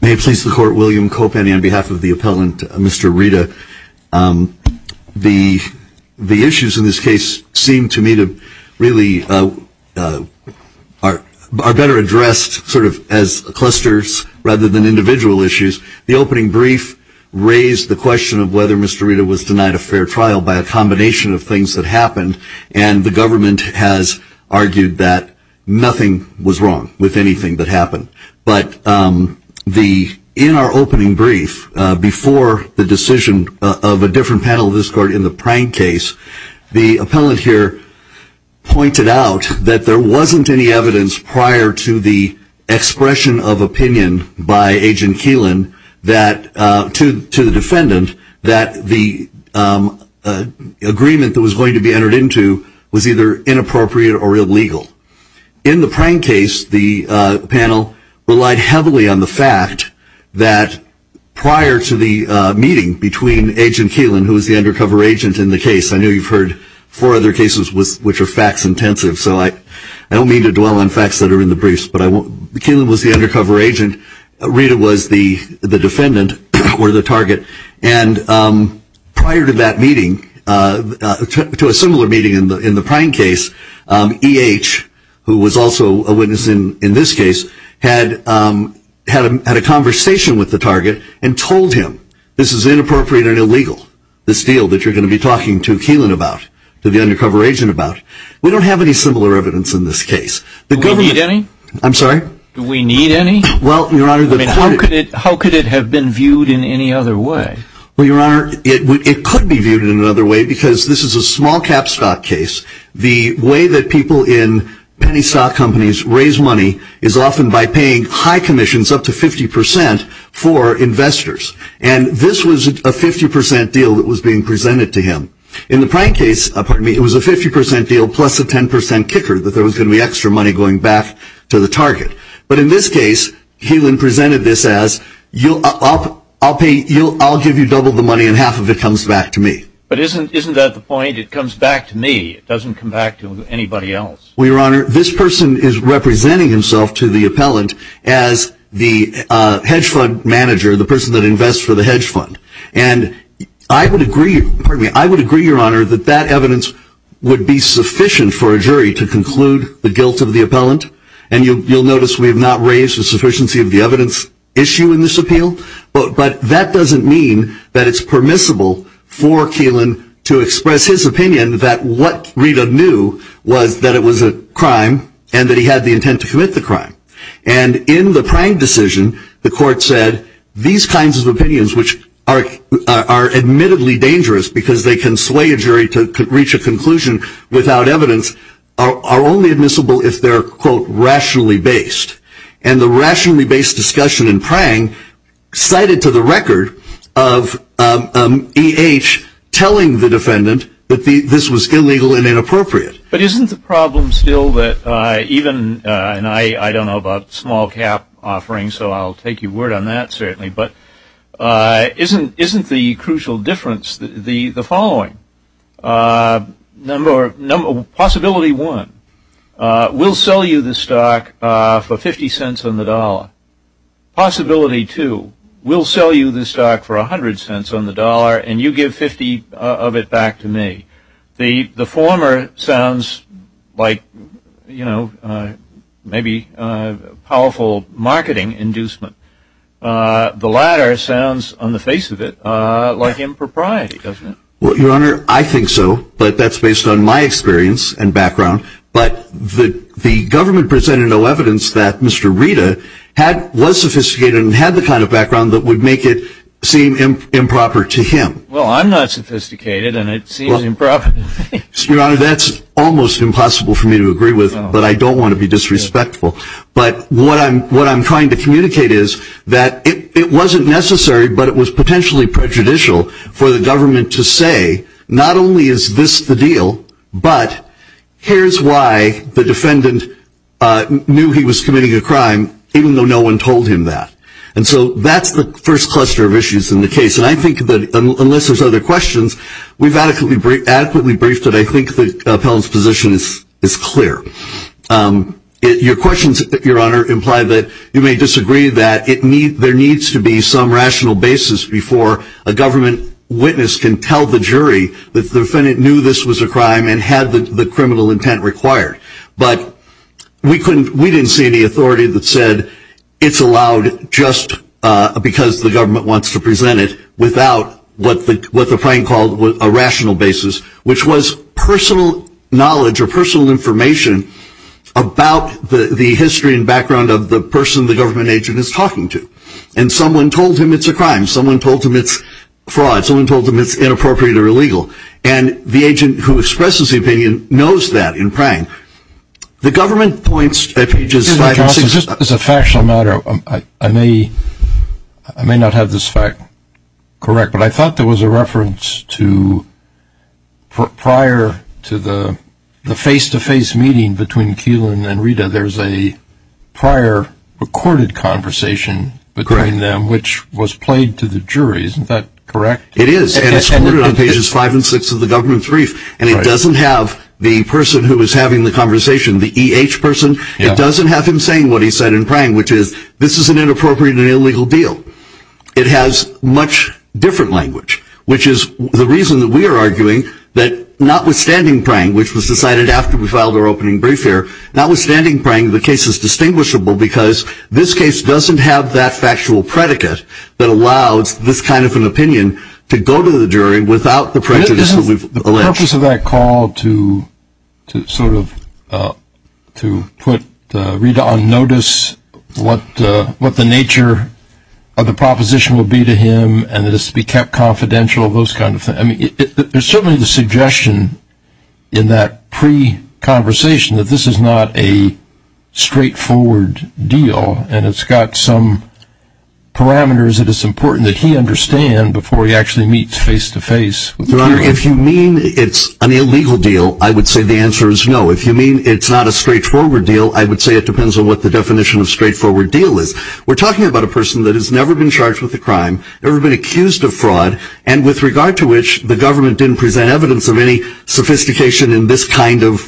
May it please the court, William Kopany on behalf of the appellant Mr. Reda, the issues in this case seem to me to really are better addressed sort of as clusters rather than trial by a combination of things that happened and the government has argued that nothing was wrong with anything that happened. But in our opening brief before the decision of a different panel of this court in the Prang case, the appellant here pointed out that there wasn't any evidence prior to the expression of opinion by Agent Keelan to the defendant that the agreement that was going to be entered into was either inappropriate or illegal. In the Prang case, the panel relied heavily on the fact that prior to the meeting between Agent Keelan, who was the undercover agent in the case, I know you've heard four other cases which are facts intensive, so I don't mean to dwell on facts that are in the briefs. Keelan was the undercover agent, Reda was the defendant or the target, and prior to that meeting, to a similar meeting in the Prang case, E.H., who was also a witness in this case, had a conversation with the target and told him this is inappropriate and illegal, this deal that you're going to be talking to Keelan about, to the undercover agent about. We don't have any similar evidence in this case. Do we need any? I'm sorry? Do we need any? How could it have been viewed in any other way? Well, Your Honor, it could be viewed in another way because this is a small cap stock case. The way that people in penny stock companies raise money is often by paying high commissions, up to 50%, for investors. And this was a 50% deal that was being presented to him. In the Prang case, pardon me, it was a 50% deal plus a 10% kicker that there was going to be extra money going back to the target. But in this case, Keelan presented this as, I'll give you double the money and half of it comes back to me. But isn't that the point? It comes back to me. It doesn't come back to anybody else. Well, Your Honor, this person is representing himself to the appellant as the hedge fund manager, the person that invests for the hedge fund. And I would agree, pardon me, I would agree, Your Honor, that that evidence would be sufficient for a jury to conclude the guilt of the appellant. And you'll notice we have not raised the sufficiency of the evidence issue in this appeal. But that doesn't mean that it's permissible for Keelan to express his opinion that what Rita knew was that it was a crime and that he had the intent to commit the crime. And in the Prang decision, the court said these kinds of opinions, which are admittedly dangerous because they can sway a jury to reach a conclusion without evidence, are only admissible if they're, quote, rationally based. And the rationally based discussion in Prang cited to the record of E.H. telling the defendant that this was illegal and inappropriate. But isn't the problem still that even, and I don't know about small cap offerings, so I'll take your word on that certainly, but isn't the crucial difference the following? Possibility one, we'll sell you the stock for $0.50 on the dollar. Possibility two, we'll sell you the stock for $0.10 on the dollar and you give 50 of it back to me. The former sounds like, you know, maybe powerful marketing inducement. The latter sounds, on the face of it, like impropriety, doesn't it? Well, Your Honor, I think so, but that's based on my experience and background. But the government presented no evidence that Mr. Rita was sophisticated and had the kind of background that would make it seem improper to him. Well, I'm not sophisticated and it seems improper to me. Your Honor, that's almost impossible for me to agree with, but I don't want to be disrespectful. But what I'm trying to communicate is that it wasn't necessary, but it was potentially prejudicial for the government to say, not only is this the deal, but here's why the defendant knew he was committing a crime even though no one told him that. And so that's the first cluster of issues in the case. And I think that, unless there's other questions, we've adequately briefed it. I think the appellant's position is clear. Your questions, Your Honor, imply that you may disagree that there needs to be some rational basis before a government witness can tell the jury that the defendant knew this was a crime and had the criminal intent required. But we didn't see any authority that said it's allowed just because the government wants to present it without what the prank called a rational basis, which was personal knowledge or personal information about the history and background of the person the government agent is talking to. And someone told him it's a crime. Someone told him it's fraud. Someone told him it's inappropriate or illegal. And the agent who expresses the opinion knows that in prank. The government points at pages 5 and 6. Just as a factional matter, I may not have this fact correct, but I thought there was a reference to prior to the face-to-face meeting between Keelan and Rita, there's a prior recorded conversation between them which was played to the jury. Isn't that correct? It is. And it's recorded on pages 5 and 6 of the government's brief. And it doesn't have the person who is having the conversation, the EH person. It doesn't have him saying what he said in prank, which is this is an inappropriate and illegal deal. It has much different language, which is the reason that we are arguing that notwithstanding prank, which was decided after we filed our opening brief here, notwithstanding prank, I think the case is distinguishable because this case doesn't have that factual predicate that allows this kind of an opinion to go to the jury without the prejudice that we've alleged. The purpose of that call to sort of put Rita on notice, what the nature of the proposition will be to him, and it has to be kept confidential, those kind of things. There's certainly the suggestion in that pre-conversation that this is not a straightforward deal and it's got some parameters that it's important that he understand before he actually meets face-to-face. Your Honor, if you mean it's an illegal deal, I would say the answer is no. If you mean it's not a straightforward deal, I would say it depends on what the definition of straightforward deal is. We're talking about a person that has never been charged with a crime, never been accused of fraud, and with regard to which the government didn't present evidence of any sophistication in this kind of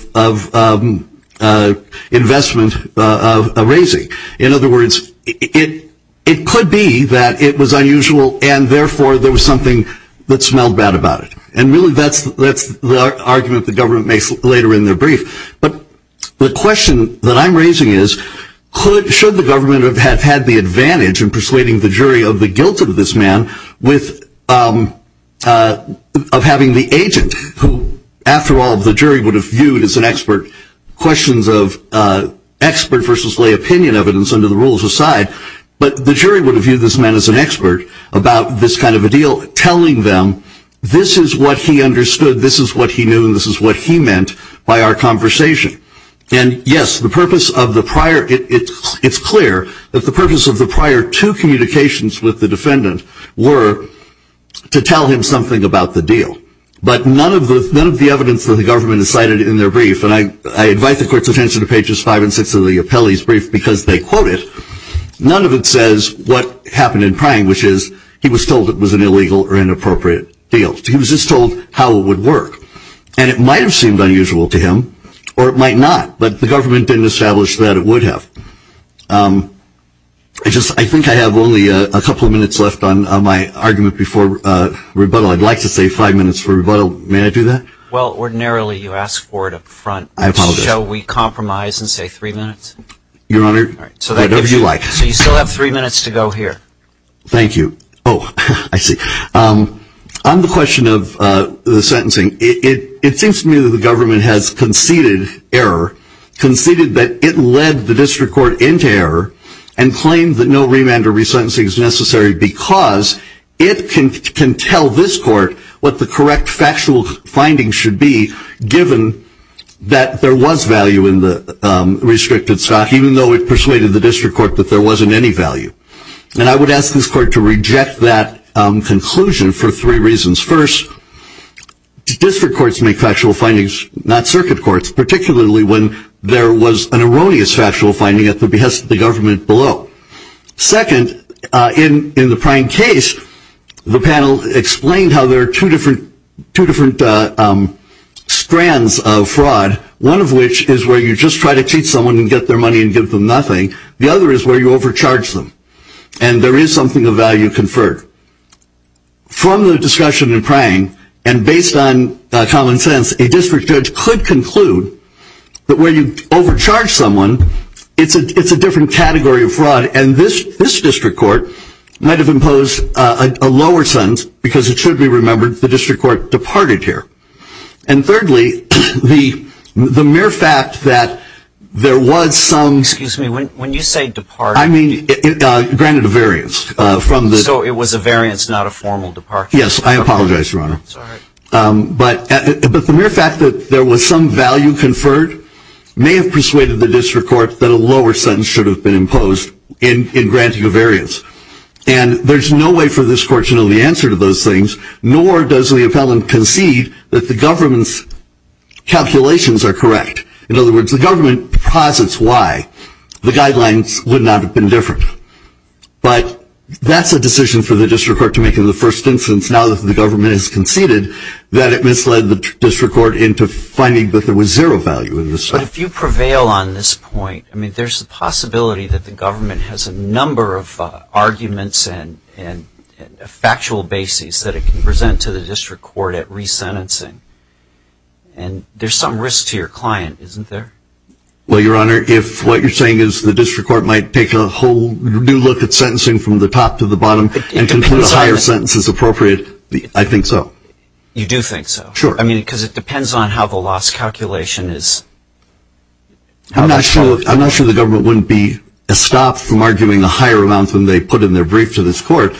investment raising. In other words, it could be that it was unusual and therefore there was something that smelled bad about it. And really that's the argument the government makes later in their brief. But the question that I'm raising is, should the government have had the advantage in persuading the jury of the guilt of this man of having the agent, who after all the jury would have viewed as an expert, questions of expert versus lay opinion evidence under the rules aside, but the jury would have viewed this man as an expert about this kind of a deal, telling them this is what he understood, this is what he knew, and this is what he meant by our conversation. And yes, it's clear that the purpose of the prior two communications with the defendant were to tell him something about the deal. But none of the evidence that the government has cited in their brief, and I invite the court's attention to pages five and six of the appellee's brief because they quote it, none of it says what happened in Prine, which is he was told it was an illegal or inappropriate deal. He was just told how it would work. And it might have seemed unusual to him, or it might not. But the government didn't establish that it would have. I think I have only a couple of minutes left on my argument before rebuttal. I'd like to save five minutes for rebuttal. May I do that? Well, ordinarily you ask for it up front. I apologize. So we compromise and say three minutes? Your Honor, whatever you like. So you still have three minutes to go here. Thank you. Oh, I see. On the question of the sentencing, it seems to me that the government has conceded error, conceded that it led the district court into error and claimed that no remand or resentencing is necessary because it can tell this court what the correct factual findings should be given that there was value in the restricted stock, even though it persuaded the district court that there wasn't any value. And I would ask this court to reject that conclusion for three reasons. First, district courts make factual findings, not circuit courts, particularly when there was an erroneous factual finding at the behest of the government below. Second, in the prime case, the panel explained how there are two different strands of fraud, one of which is where you just try to cheat someone and get their money and give them nothing. The other is where you overcharge them, and there is something of value conferred. From the discussion in Prang, and based on common sense, a district judge could conclude that when you overcharge someone, it's a different category of fraud, and this district court might have imposed a lower sentence because it should be remembered the district court departed here. And thirdly, the mere fact that there was some Excuse me, when you say departed, I mean granted a variance. So it was a variance, not a formal departure. Yes, I apologize, Your Honor. Sorry. But the mere fact that there was some value conferred may have persuaded the district court that a lower sentence should have been imposed in granting a variance. And there's no way for this court to know the answer to those things, nor does the appellant concede that the government's calculations are correct. In other words, the government posits why the guidelines would not have been different. But that's a decision for the district court to make in the first instance, now that the government has conceded that it misled the district court into finding that there was zero value in this. But if you prevail on this point, I mean there's a possibility that the government has a number of arguments and factual bases that it can present to the district court at resentencing. And there's some risk to your client, isn't there? Well, Your Honor, if what you're saying is the district court might take a whole new look at sentencing from the top to the bottom and conclude a higher sentence is appropriate, I think so. You do think so? Sure. I mean, because it depends on how the loss calculation is. I'm not sure the government wouldn't be stopped from arguing a higher amount than they put in their brief to this court.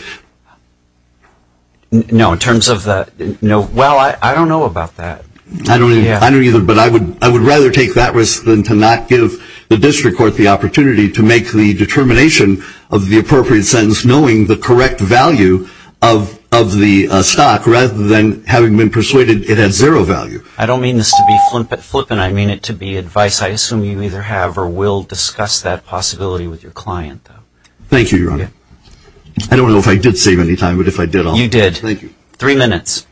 No, in terms of the, well, I don't know about that. I don't either, but I would rather take that risk than to not give the district court the opportunity to make the determination of the appropriate sentence knowing the correct value of the stock rather than having been persuaded it had zero value. I don't mean this to be flippant. I mean it to be advice. I assume you either have or will discuss that possibility with your client. Thank you, Your Honor. Thank you. I don't know if I did save any time, but if I did, I'll. You did. Thank you. Three minutes.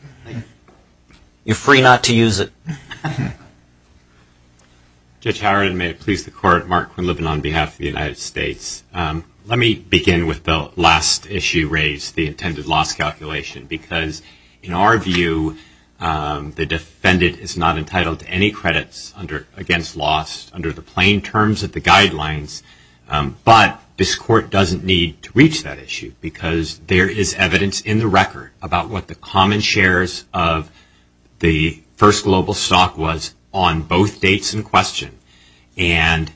You're free not to use it. Judge Howard, may it please the Court, Mark Quinlivan on behalf of the United States. Let me begin with the last issue raised, the intended loss calculation, because in our view the defendant is not entitled to any credits against loss under the plain terms of the guidelines, but this Court doesn't need to reach that issue because there is evidence in the record about what the common shares of the first global stock was on both dates in question, and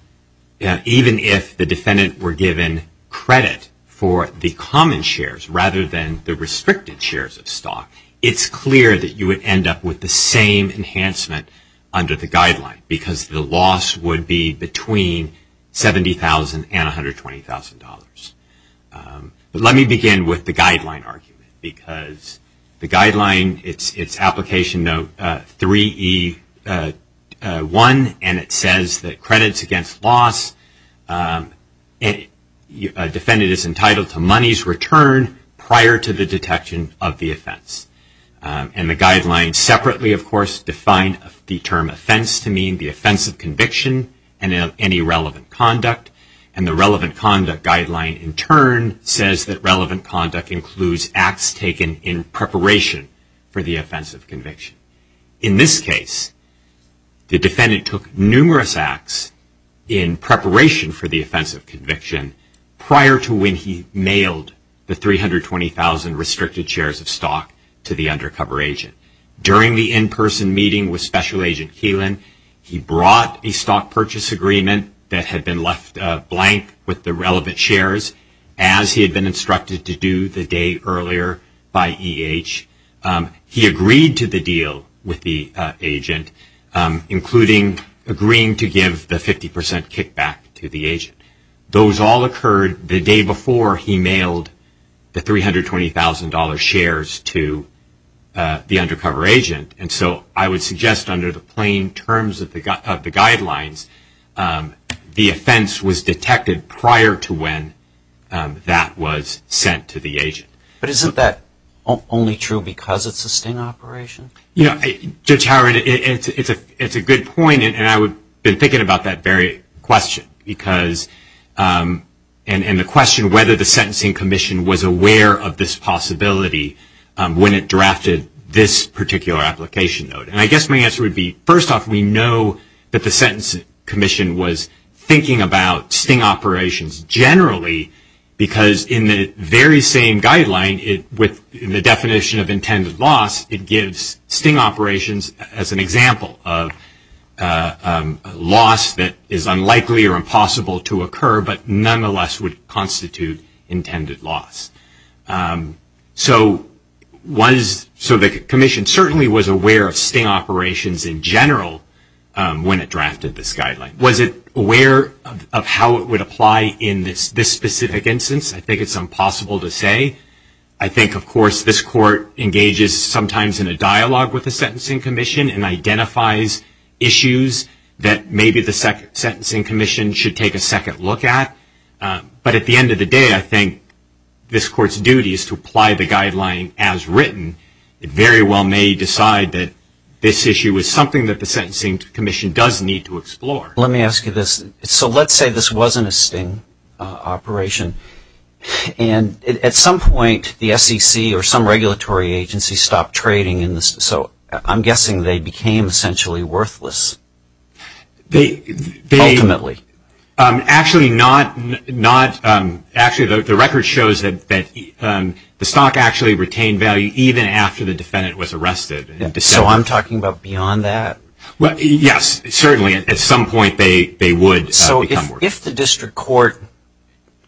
even if the defendant were given credit for the common shares rather than the restricted shares of stock, it's clear that you would end up with the same enhancement under the guideline because the loss would be between $70,000 and $120,000. But let me begin with the guideline argument because the guideline, it's application note 3E1, and it says that credits against loss, a defendant is entitled to money's return prior to the detection of the offense. And the guideline separately, of course, defined the term offense to mean the offense of conviction and any relevant conduct, and the relevant conduct guideline in turn says that relevant conduct includes acts taken in preparation for the offense of conviction. In this case, the defendant took numerous acts in preparation for the offense of conviction prior to when he mailed the $320,000 restricted shares of stock to the undercover agent. During the in-person meeting with Special Agent Keelan, he brought a stock purchase agreement that had been left blank with the relevant shares as he had been instructed to do the day earlier by EH. He agreed to the deal with the agent, including agreeing to give the 50% kickback to the agent. Those all occurred the day before he mailed the $320,000 shares to the undercover agent. And so I would suggest under the plain terms of the guidelines, the offense was detected prior to when that was sent to the agent. But isn't that only true because it's a sting operation? You know, Judge Howard, it's a good point, and I've been thinking about that very question, and the question whether the Sentencing Commission was aware of this possibility when it drafted this particular application note. And I guess my answer would be, first off, we know that the Sentencing Commission was thinking about sting operations generally because in the very same guideline, in the definition of intended loss, it gives sting operations as an example of loss that is unlikely or impossible to occur, but nonetheless would constitute intended loss. So the Commission certainly was aware of sting operations in general when it drafted this guideline. Was it aware of how it would apply in this specific instance? I think it's impossible to say. I think, of course, this Court engages sometimes in a dialogue with the Sentencing Commission and identifies issues that maybe the Sentencing Commission should take a second look at. But at the end of the day, I think this Court's duty is to apply the guideline as written. It very well may decide that this issue is something that the Sentencing Commission does need to explore. Let me ask you this. So let's say this wasn't a sting operation. And at some point, the SEC or some regulatory agency stopped trading in this. So I'm guessing they became essentially worthless, ultimately. Actually, the record shows that the stock actually retained value even after the defendant was arrested. So I'm talking about beyond that? Yes, certainly. At some point, they would become worthless. If the district court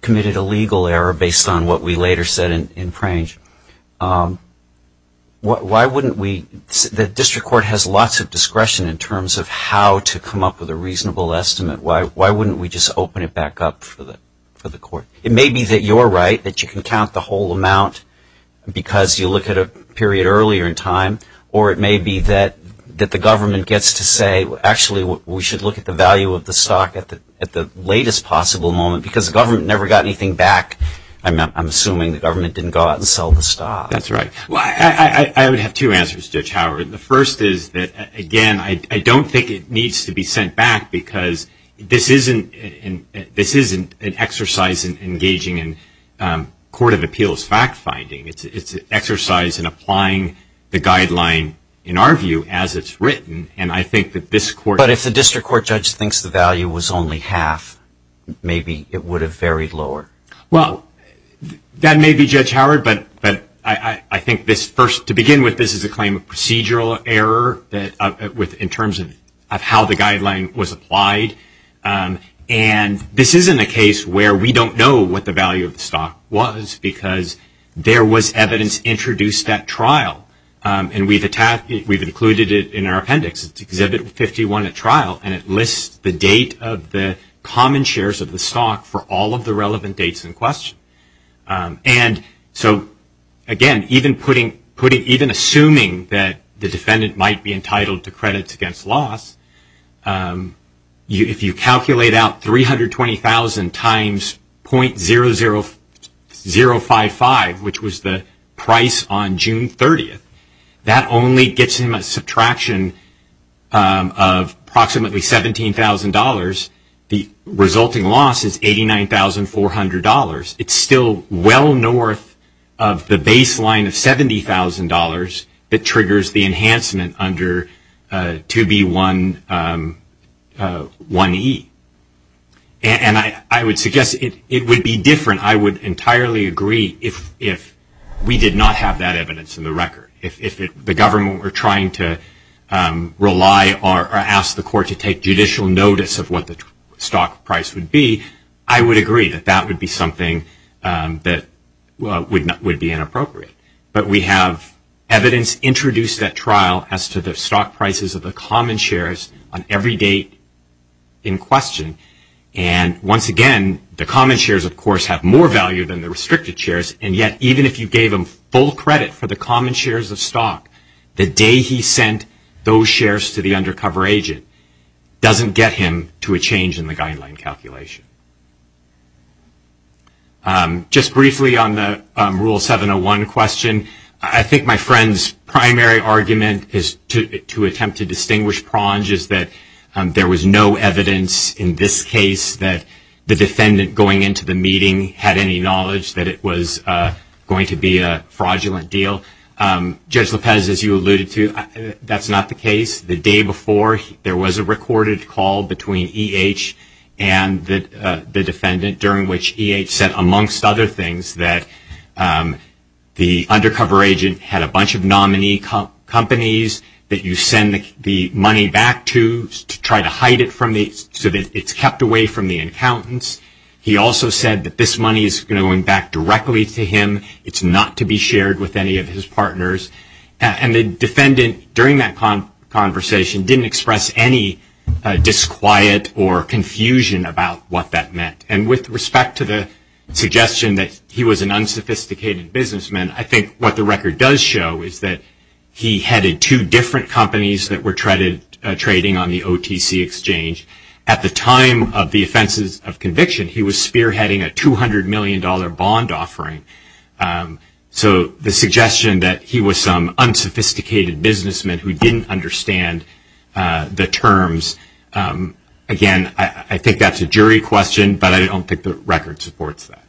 committed a legal error based on what we later said in Frange, why wouldn't we – the district court has lots of discretion in terms of how to come up with a reasonable estimate. Why wouldn't we just open it back up for the court? It may be that you're right, that you can count the whole amount because you look at a period earlier in time. Or it may be that the government gets to say, actually, we should look at the value of the stock at the latest possible moment. Because the government never got anything back. I'm assuming the government didn't go out and sell the stock. That's right. I would have two answers, Judge Howard. The first is that, again, I don't think it needs to be sent back because this isn't an exercise in engaging in court of appeals fact-finding. It's an exercise in applying the guideline, in our view, as it's written. And I think that this court – But if the district court judge thinks the value was only half, maybe it would have varied lower. Well, that may be, Judge Howard. But I think this first – to begin with, this is a claim of procedural error in terms of how the guideline was applied. And this isn't a case where we don't know what the value of the stock was because there was evidence introduced at trial. And we've included it in our appendix. It's Exhibit 51 at trial. And it lists the date of the common shares of the stock for all of the relevant dates in question. And so, again, even assuming that the defendant might be entitled to credits against loss, if you calculate out $320,000 times .00055, which was the price on June 30th, that only gets him a subtraction of approximately $17,000. The resulting loss is $89,400. It's still well north of the baseline of $70,000 that triggers the enhancement under 2B.1.1.E. And I would suggest it would be different. I would entirely agree if we did not have that evidence in the record, if the government were trying to rely or ask the court to take judicial notice of what the stock price would be, I would agree that that would be something that would be inappropriate. But we have evidence introduced at trial as to the stock prices of the common shares on every date in question. And, once again, the common shares, of course, have more value than the restricted shares. And yet, even if you gave them full credit for the common shares of stock, the day he sent those shares to the undercover agent doesn't get him to a change in the guideline calculation. Just briefly on the Rule 701 question, I think my friend's primary argument to attempt to distinguish prong is that there was no evidence in this case that the defendant going into the meeting had any knowledge that it was going to be a fraudulent deal. Judge Lopez, as you alluded to, that's not the case. The day before, there was a recorded call between E.H. and the defendant, during which E.H. said, amongst other things, that the undercover agent had a bunch of nominee companies that you send the money back to to try to hide it so that it's kept away from the accountants. He also said that this money is going back directly to him. It's not to be shared with any of his partners. And the defendant, during that conversation, didn't express any disquiet or confusion about what that meant. And with respect to the suggestion that he was an unsophisticated businessman, I think what the record does show is that he headed two different companies that were trading on the OTC exchange. At the time of the offenses of conviction, he was spearheading a $200 million bond offering. So the suggestion that he was some unsophisticated businessman who didn't understand the terms, again, I think that's a jury question, but I don't think the record supports that.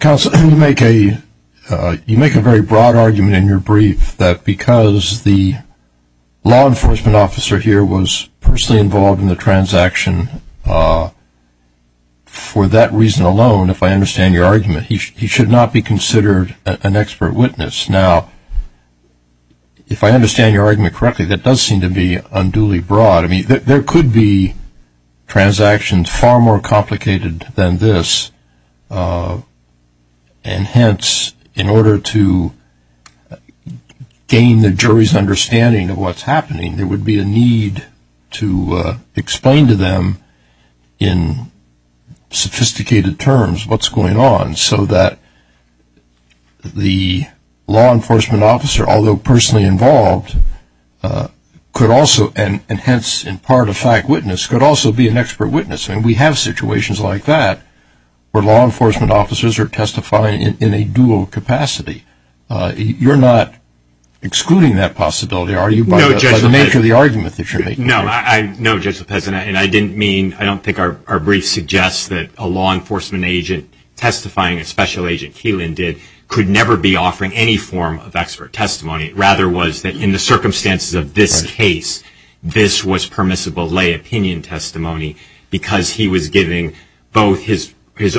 Counsel, you make a very broad argument in your brief that because the law enforcement officer here was personally involved in the transaction for that reason alone, if I understand your argument, he should not be considered an expert witness. Now, if I understand your argument correctly, that does seem to be unduly broad. I mean, there could be transactions far more complicated than this, and hence, in order to gain the jury's understanding of what's happening, there would be a need to explain to them in sophisticated terms what's going on, so that the law enforcement officer, although personally involved, could also, and hence in part a fact witness, could also be an expert witness. I mean, we have situations like that where law enforcement officers are testifying in a dual capacity. You're not excluding that possibility, are you? By the nature of the argument that you're making. No, Judge Lopez, and I didn't mean, I don't think our brief suggests that a law enforcement agent testifying, a special agent Keelan did, could never be offering any form of expert testimony. It rather was that in the circumstances of this case, this was permissible lay opinion testimony, because he was giving both his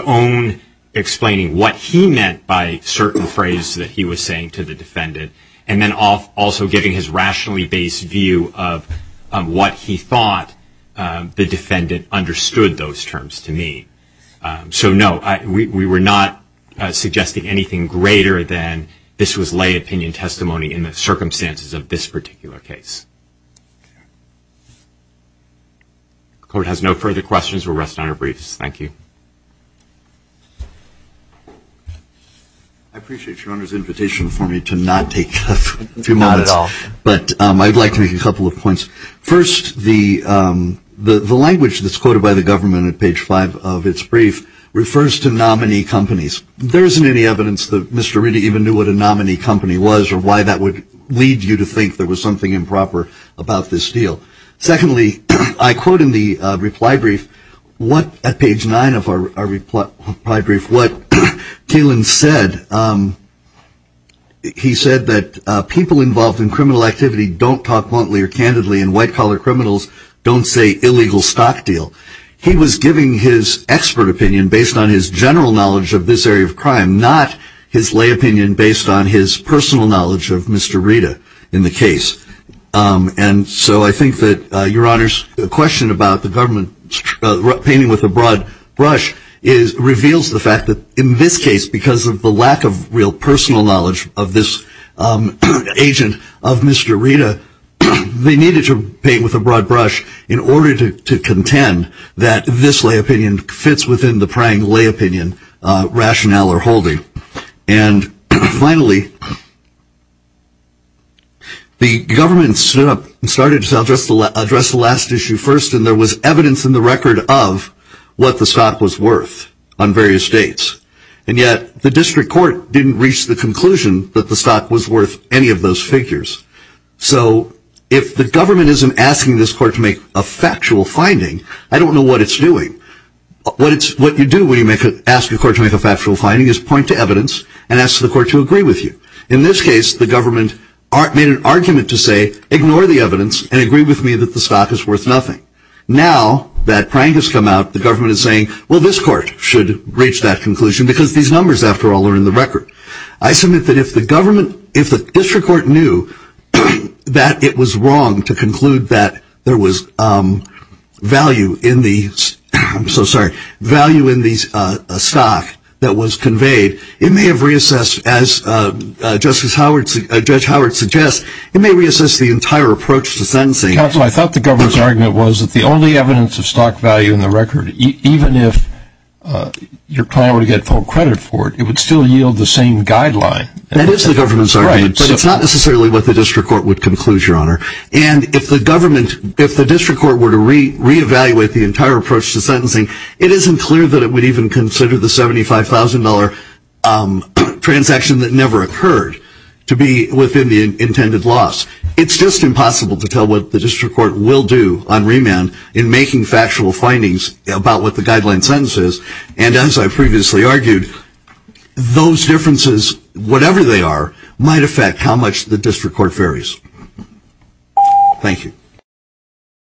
own explaining what he meant by certain phrase that he was saying to the defendant, and then also giving his rationally based view of what he thought the defendant understood those terms to mean. So no, we were not suggesting anything greater than this was lay opinion testimony in the circumstances of this particular case. Court has no further questions. We'll rest on our briefs. Thank you. I appreciate your Honor's invitation for me to not take a few moments. Not at all. But I'd like to make a couple of points. First, the language that's quoted by the government at page five of its brief refers to nominee companies. There isn't any evidence that Mr. Ritti even knew what a nominee company was, or why that would lead you to think there was something improper about this deal. Secondly, I quote in the reply brief at page nine of our reply brief what Kalin said. He said that people involved in criminal activity don't talk bluntly or candidly, and white-collar criminals don't say illegal stock deal. He was giving his expert opinion based on his general knowledge of this area of crime, not his lay opinion based on his personal knowledge of Mr. Ritta in the case. And so I think that your Honor's question about the government painting with a broad brush reveals the fact that in this case, because of the lack of real personal knowledge of this agent of Mr. Ritta, they needed to paint with a broad brush in order to contend that this lay opinion fits within the prying lay opinion rationale or holding. And finally, the government stood up and started to address the last issue first, and there was evidence in the record of what the stock was worth on various dates. And yet the district court didn't reach the conclusion that the stock was worth any of those figures. So if the government isn't asking this court to make a factual finding, I don't know what it's doing. What you do when you ask a court to make a factual finding is point to evidence and ask the court to agree with you. In this case, the government made an argument to say, ignore the evidence and agree with me that the stock is worth nothing. Now that Prang has come out, the government is saying, well, this court should reach that conclusion, because these numbers, after all, are in the record. I submit that if the district court knew that it was wrong to conclude that there was value in the stock that was conveyed, it may have reassessed, as Judge Howard suggests, it may reassess the entire approach to sentencing. Counsel, I thought the government's argument was that the only evidence of stock value in the record, even if your client were to get full credit for it, it would still yield the same guideline. That is the government's argument, but it's not necessarily what the district court would conclude, Your Honor. And if the district court were to reevaluate the entire approach to sentencing, it isn't clear that it would even consider the $75,000 transaction that never occurred to be within the intended loss. It's just impossible to tell what the district court will do on remand in making factual findings about what the guideline sentence is. And as I previously argued, those differences, whatever they are, might affect how much the district court varies. Thank you.